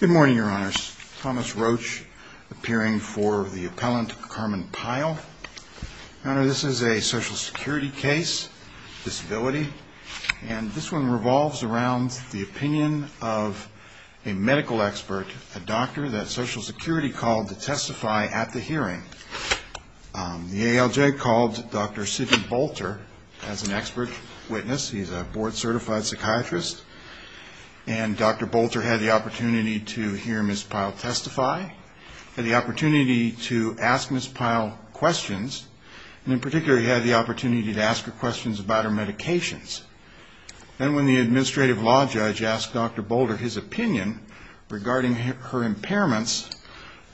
Good morning, Your Honors. Thomas Roach, appearing for the appellant, Carmen Pyle. Your Honor, this is a Social Security case, disability, and this one revolves around the opinion of a medical expert, a doctor that Social Security called to testify at the hearing. The ALJ called Dr. Sidney Bolter as an expert witness. He's a board-certified psychiatrist. And Dr. Bolter had the opportunity to hear Ms. Pyle testify, had the opportunity to ask Ms. Pyle questions, and in particular, he had the opportunity to ask her questions about her medications. Then when the administrative law judge asked Dr. Bolter his opinion regarding her impairments,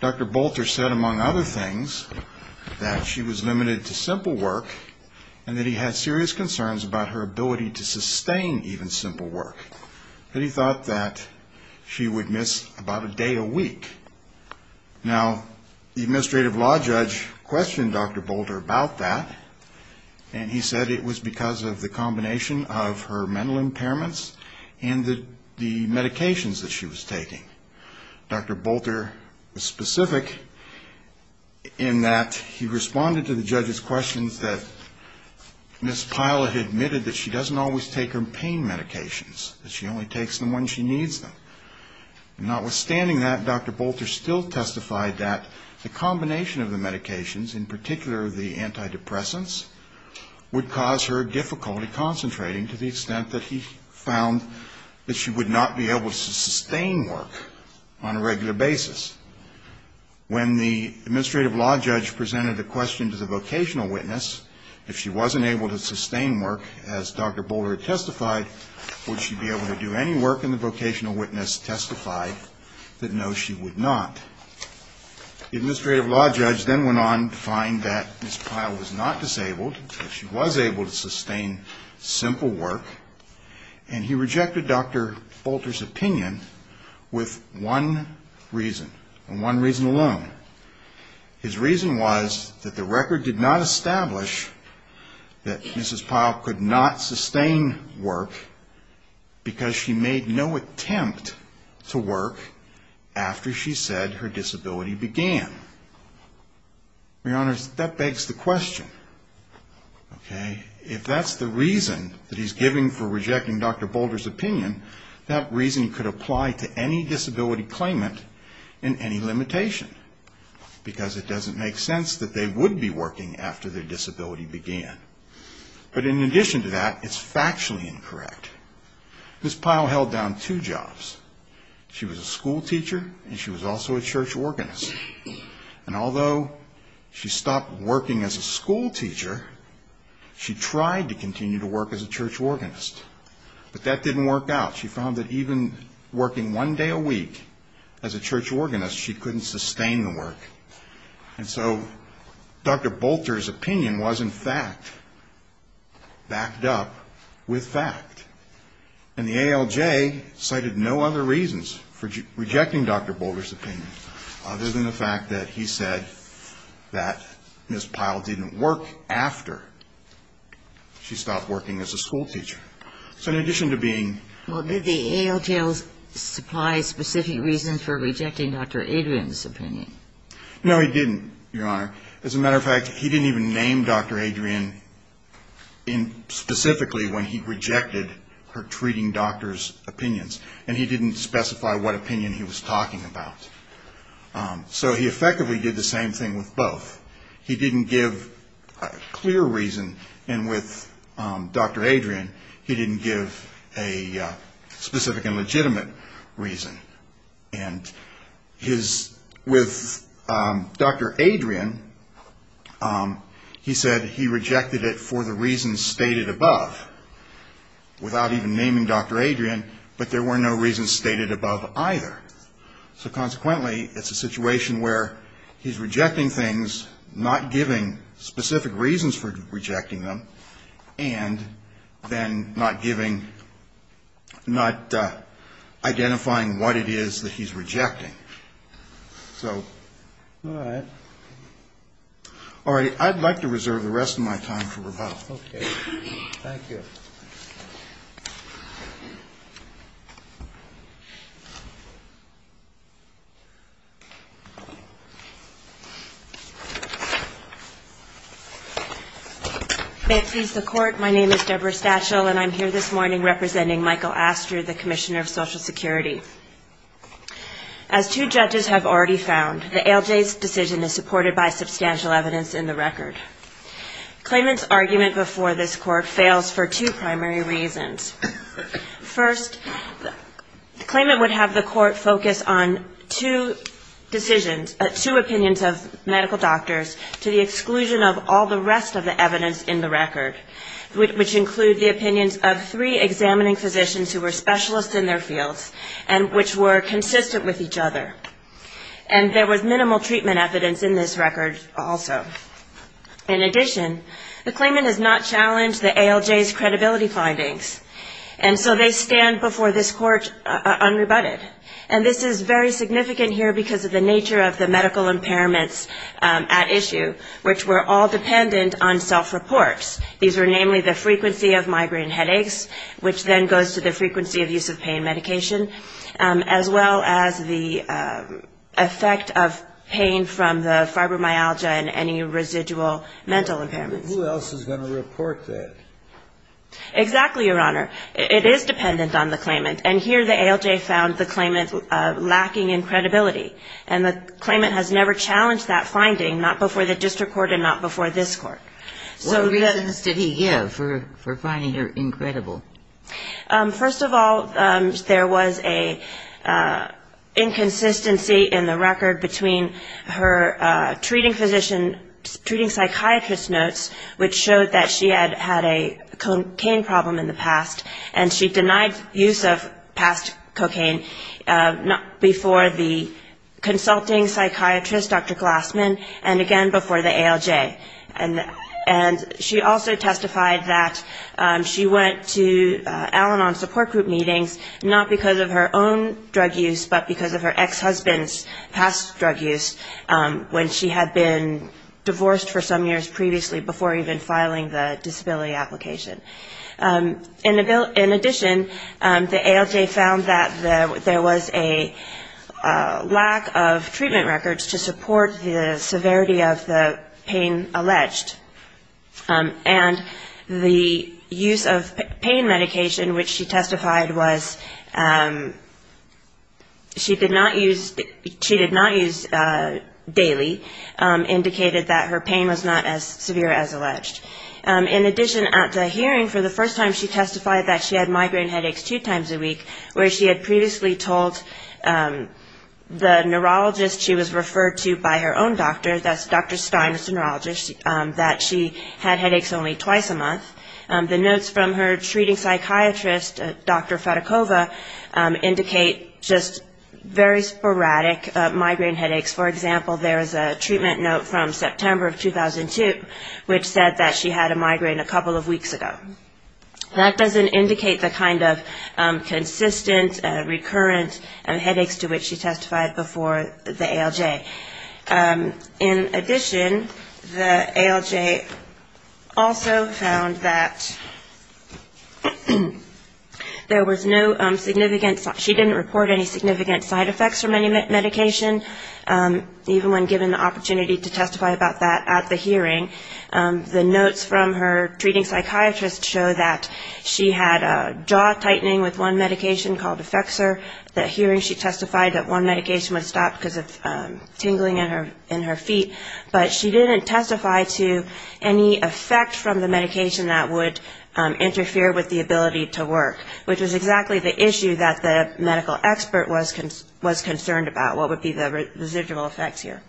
Dr. Bolter said, among other things, that she was limited to simple work and that he had serious concerns about her ability to sustain even simple work, that he thought that she would miss about a day a week. Now, the administrative law judge questioned Dr. Bolter about that, and he said it was because of the combination of her mental impairments and the medications that she was taking. Dr. Bolter was specific in that he responded to the judge's questions that Ms. Pyle had admitted that she doesn't always take her pain medications, that she only takes them when she needs them. Notwithstanding that, Dr. Bolter still testified that the combination of the medications, in particular the antidepressants, would cause her difficulty concentrating to the extent that he found that she would not be able to sustain work on a regular basis. When the administrative law judge presented a question to the vocational witness, if she wasn't able to sustain work, as Dr. Bolter testified, would she be able to do any work, and the vocational witness testified that no, she would not. The administrative law judge then went on to find that Ms. Pyle was not disabled, that she was able to sustain simple work, and he rejected Dr. Bolter's opinion with one reason, and one reason alone. His reason was that the record did not establish that Ms. Pyle could not sustain work because she made no attempt to work after she said her disability began. Your Honor, that begs the question. If that's the reason that he's giving for rejecting Dr. Bolter's opinion, that reason could apply to any disability claimant in any limitation, because it doesn't make sense that they would be working after their disability began. But in addition to that, it's factually incorrect. Ms. Pyle held down two jobs. She was a schoolteacher, and she was also a church organist. And although she stopped working as a schoolteacher, she tried to continue to work as a church organist. But that didn't work out. She found that even working one day a week as a church organist, she couldn't sustain the work. And so Dr. Bolter's opinion was, in fact, backed up with fact. And the ALJ cited no other reasons for rejecting Dr. Bolter's opinion other than the fact that he said that Ms. Pyle didn't work after she stopped working as a schoolteacher. So in addition to being ---- Well, did the ALJ supply specific reasons for rejecting Dr. Adrian's opinion? No, he didn't, Your Honor. As a matter of fact, he didn't even name Dr. Adrian specifically when he rejected her treating doctors' opinions. And he didn't specify what opinion he was talking about. So he effectively did the same thing with both. He didn't give a clear reason. And with Dr. Adrian, he didn't give a specific and legitimate reason. And with Dr. Adrian, he said he rejected it for the reasons stated above, without even naming Dr. Adrian, but there were no reasons stated above either. So consequently, it's a situation where he's rejecting things, not giving specific reasons for rejecting them, and then not giving ---- not identifying what it is that he's rejecting. So ---- All right. All right. I'd like to reserve the rest of my time for rebuttal. Okay. Thank you. May it please the Court, my name is Deborah Stachel, and I'm here this morning representing Michael Astre, the Commissioner of Social Security. As two judges have already found, the ALJ's decision is supported by substantial evidence in the record. Claimant's argument before this Court fails for two reasons. First, the claimant would have the Court focus on two decisions, two opinions of medical doctors, to the exclusion of all the rest of the evidence in the record, which include the opinions of three examining physicians who were specialists in their fields, and which were consistent with each other. And there was minimal treatment evidence in this record also. In addition, the claimant has not challenged the ALJ's credibility findings, and so they stand before this Court unrebutted. And this is very significant here because of the nature of the medical impairments at issue, which were all dependent on self-reports. These were namely the frequency of migraine headaches, which then goes to the frequency of use of pain medication, as well as the effect of pain from the fibromyalgia and any residual mental impairments. Who else is going to report that? Exactly, Your Honor. It is dependent on the claimant, and here the ALJ found the claimant lacking in credibility. And the claimant has never challenged that finding, not before the district court and not before this Court. What reasons did he give for finding her incredible? First of all, there was an inconsistency in the record between her treating physician, treating psychiatrist notes, which showed that she had had a cocaine problem in the past, and she denied use of past cocaine before the consulting psychiatrist, Dr. Glassman, and again before the ALJ. And she also testified that she went to Al-Anon support group meetings not because of her own drug use, but because of her ex-husband's past drug use when she had been divorced for some years previously before even filing the disability application. In addition, the ALJ found that there was a lack of treatment records to support the severity of the pain as alleged, and the use of pain medication, which she testified was she did not use daily, indicated that her pain was not as severe as alleged. In addition, at the hearing, for the first time she testified that she had migraine headaches two times a week, where she had previously told the neurologist she was referred to by her own doctor, that's Dr. Stein, a neurologist, that she had headaches only twice a month. The notes from her treating psychiatrist, Dr. Fedekova, indicate just very sporadic migraine headaches. For example, there's a treatment note from September of 2002, which said that she had a migraine a couple of weeks ago. That doesn't indicate the kind of consistent, recurrent headaches to which she testified before the ALJ. In addition, the ALJ also found that there was no significant, she didn't report any significant side effects from any medication, even when given the opportunity to testify about that at the hearing. The notes from her treating psychiatrist show that she had a jaw tightening with one medication called Effexor. At the hearing, she testified that one medication would stop because of tingling in her feet, but she didn't testify to any effect from the medication that would interfere with the ability to work, which was exactly the issue that the medical expert was concerned about, what would be the residual effects here.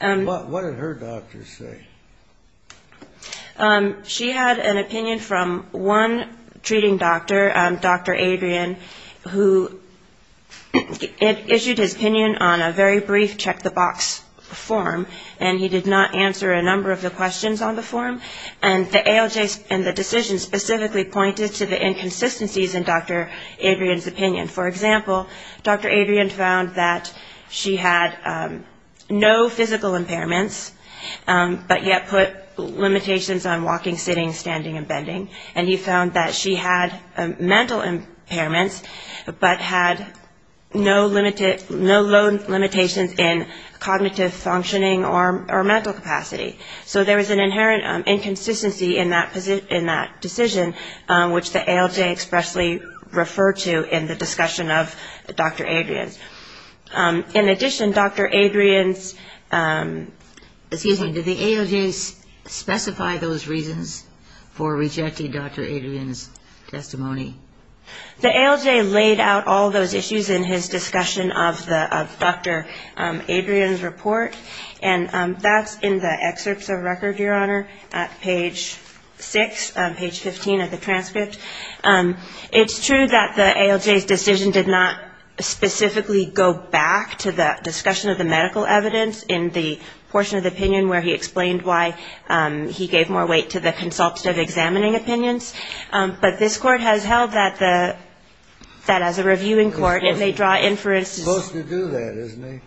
What did her doctor say? She had an opinion from one treating doctor, Dr. Adrian, who issued his opinion on a very brief check-the-box form, and he did not answer a number of the questions on the form, and the ALJ and the decision specifically pointed to the inconsistencies in Dr. Adrian's opinion. For example, Dr. Adrian found that she had no physical impairments, but yet put limitations on walking, sitting, standing and bending, and he found that she had mental impairments, but had no limitations in cognitive functioning or mental capacity. So there was an inherent inconsistency in that decision, which the ALJ expressly referred to in the discussion of Dr. Adrian's. In addition, Dr. Adrian's... Excuse me, did the ALJ specify those reasons for rejecting Dr. Adrian's testimony? The ALJ laid out all those issues in his discussion of Dr. Adrian's report, and that's in the excerpts of record, Your Honor, at page 6, page 15 of the transcript. It's true that the ALJ's decision did not specifically go back to the discussion of the medical evidence in the portion of the opinion where he explained why he gave more weight to the consultative examining opinions, but this Court has held that as a reviewing court, if they draw inferences... Supposed to do that, isn't it?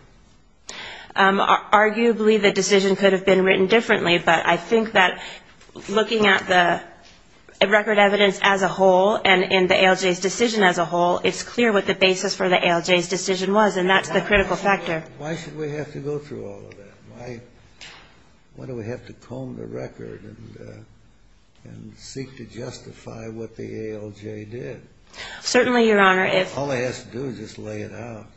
Arguably, the decision could have been written differently, but I think that looking at the record evidence as a whole and in the ALJ's decision as a whole, it's clear what the basis for the ALJ's decision was, and that's the critical factor. Why should we have to go through all of that? Why do we have to comb the record and seek to justify what the ALJ did? Certainly, Your Honor, if... All it has to do is just lay it out.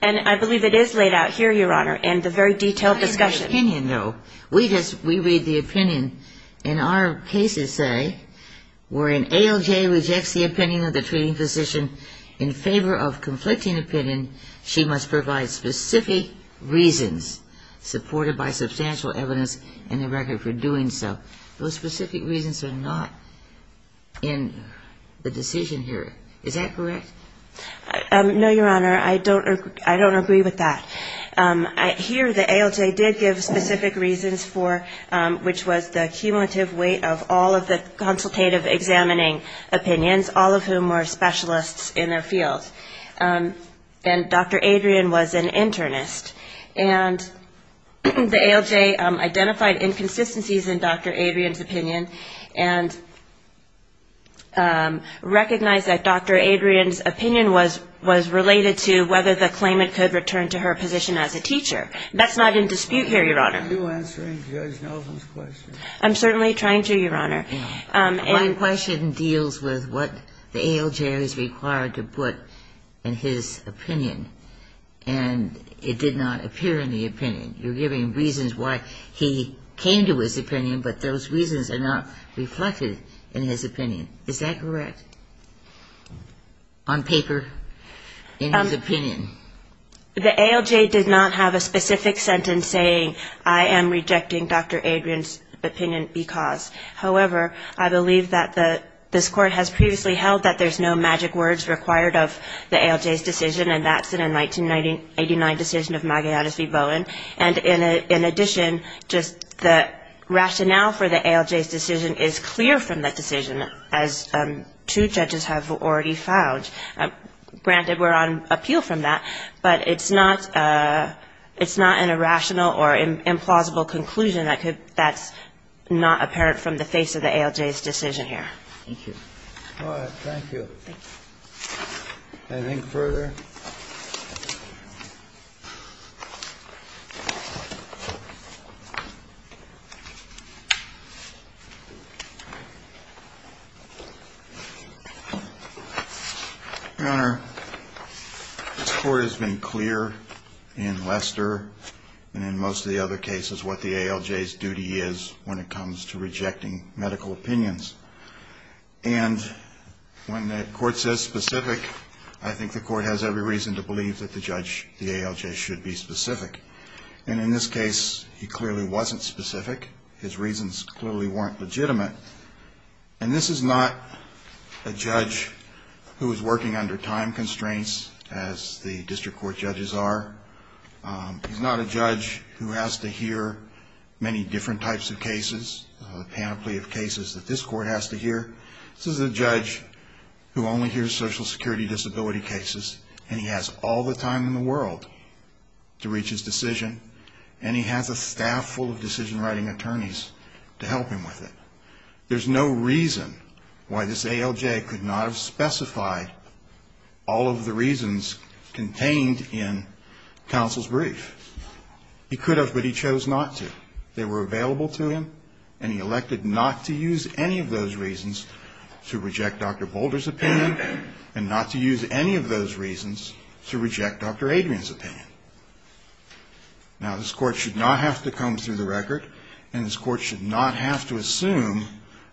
And I believe it is laid out here, Your Honor, in the very detailed discussion. Not in the opinion, though. We read the opinion, and our cases say, where an ALJ rejects the opinion of the treating physician in favor of conflicting opinion, she must provide specific reasons supported by substantial evidence in the record for doing so. Those specific reasons are not in the decision here. Is that correct? No, Your Honor, I don't agree with that. Here, the ALJ did give specific reasons for, which was the cumulative weight of all of the consultative examining opinions, all of whom were specialists in their field. And Dr. Adrian was an internist. And the ALJ identified inconsistencies in Dr. Adrian's opinion, and recognized that Dr. Adrian's opinion was related to whether the claimant could return to her position as a teacher. That's not in dispute here, Your Honor. Are you answering Judge Nelson's question? I'm certainly trying to, Your Honor. My question deals with what the ALJ is required to put in his opinion. And it did not appear in the opinion. You're giving reasons why he came to his opinion, but those reasons are not reflected in his opinion. Is that correct? On paper, in his opinion. The ALJ did not have a specific sentence saying, I am rejecting Dr. Adrian's opinion because. However, I believe that this Court has previously held that there's no magic words required of the ALJ's decision, and that's in a 1989 decision of Magallanes v. Bowen. And in addition, just the rationale for the ALJ's decision is clear from that decision, as two judges have already found. Granted, we're on appeal from that, but it's not an irrational or implausible conclusion that's not apparent from the face of the ALJ's decision here. Thank you. All right. Thank you. Can I think further? Your Honor, this Court has been clear in Lester, and in most of the other cases, what the ALJ's duty is when it comes to rejecting medical opinions. And when the Court says specific, I think the Court has every reason to believe that the judge, the ALJ, should be specific. And in this case, he clearly wasn't specific. His reasons clearly weren't legitimate. And this is not a judge who is working under time constraints, as the district court judges are. He's not a judge who has to hear many different types of cases, a panoply of cases that this Court has to hear. This is a judge who only hears Social Security disability cases, and he has all the time in the world to reach his decision, and he has a staff full of decision-writing attorneys to help him with it. There's no reason why this ALJ could not have specified all of the reasons contained in counsel's brief. He could have, but he chose not to. They were available to him, and he elected not to use any of those reasons to reject Dr. Boulder's opinion, and not to use any of those reasons to reject Dr. Adrian's opinion. Now, this Court should not have to comb through the record, and this Court should not have to assume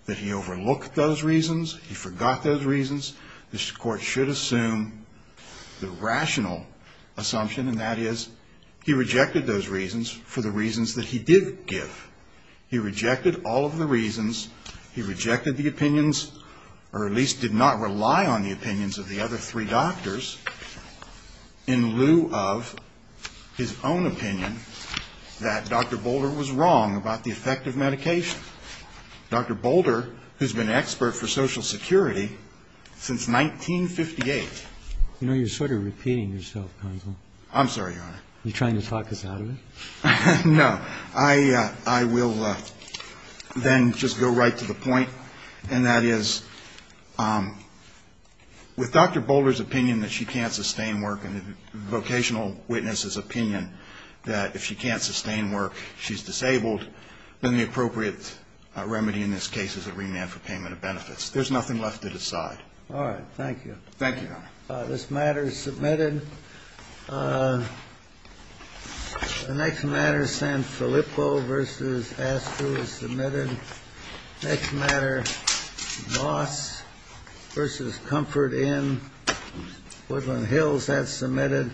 that he overlooked those reasons, he forgot those reasons. This Court should assume the rational assumption, and that is, he rejected those reasons for the reasons that he did give. He rejected all of the reasons, he rejected the opinions, or at least did not rely on the opinions of the other three doctors, in lieu of his own opinion that Dr. Boulder was wrong about the effect of medication. Dr. Boulder, who's been an expert for Social Security since 1958. You know, you're sort of repeating yourself, counsel. I'm sorry, Your Honor. Are you trying to talk us out of it? No. I will then just go right to the point, and that is, with Dr. Boulder's opinion that she can't sustain work, and the vocational witness's opinion that if she can't sustain work, she's disabled, then the appropriate remedy in this case is a remand for payment of benefits. There's nothing left to decide. All right. Thank you. Thank you, Your Honor. This matter is submitted. The next matter, Sanfilippo v. Astruz, is submitted. Next matter, Moss v. Comfort Inn, Woodland Hills. That's submitted.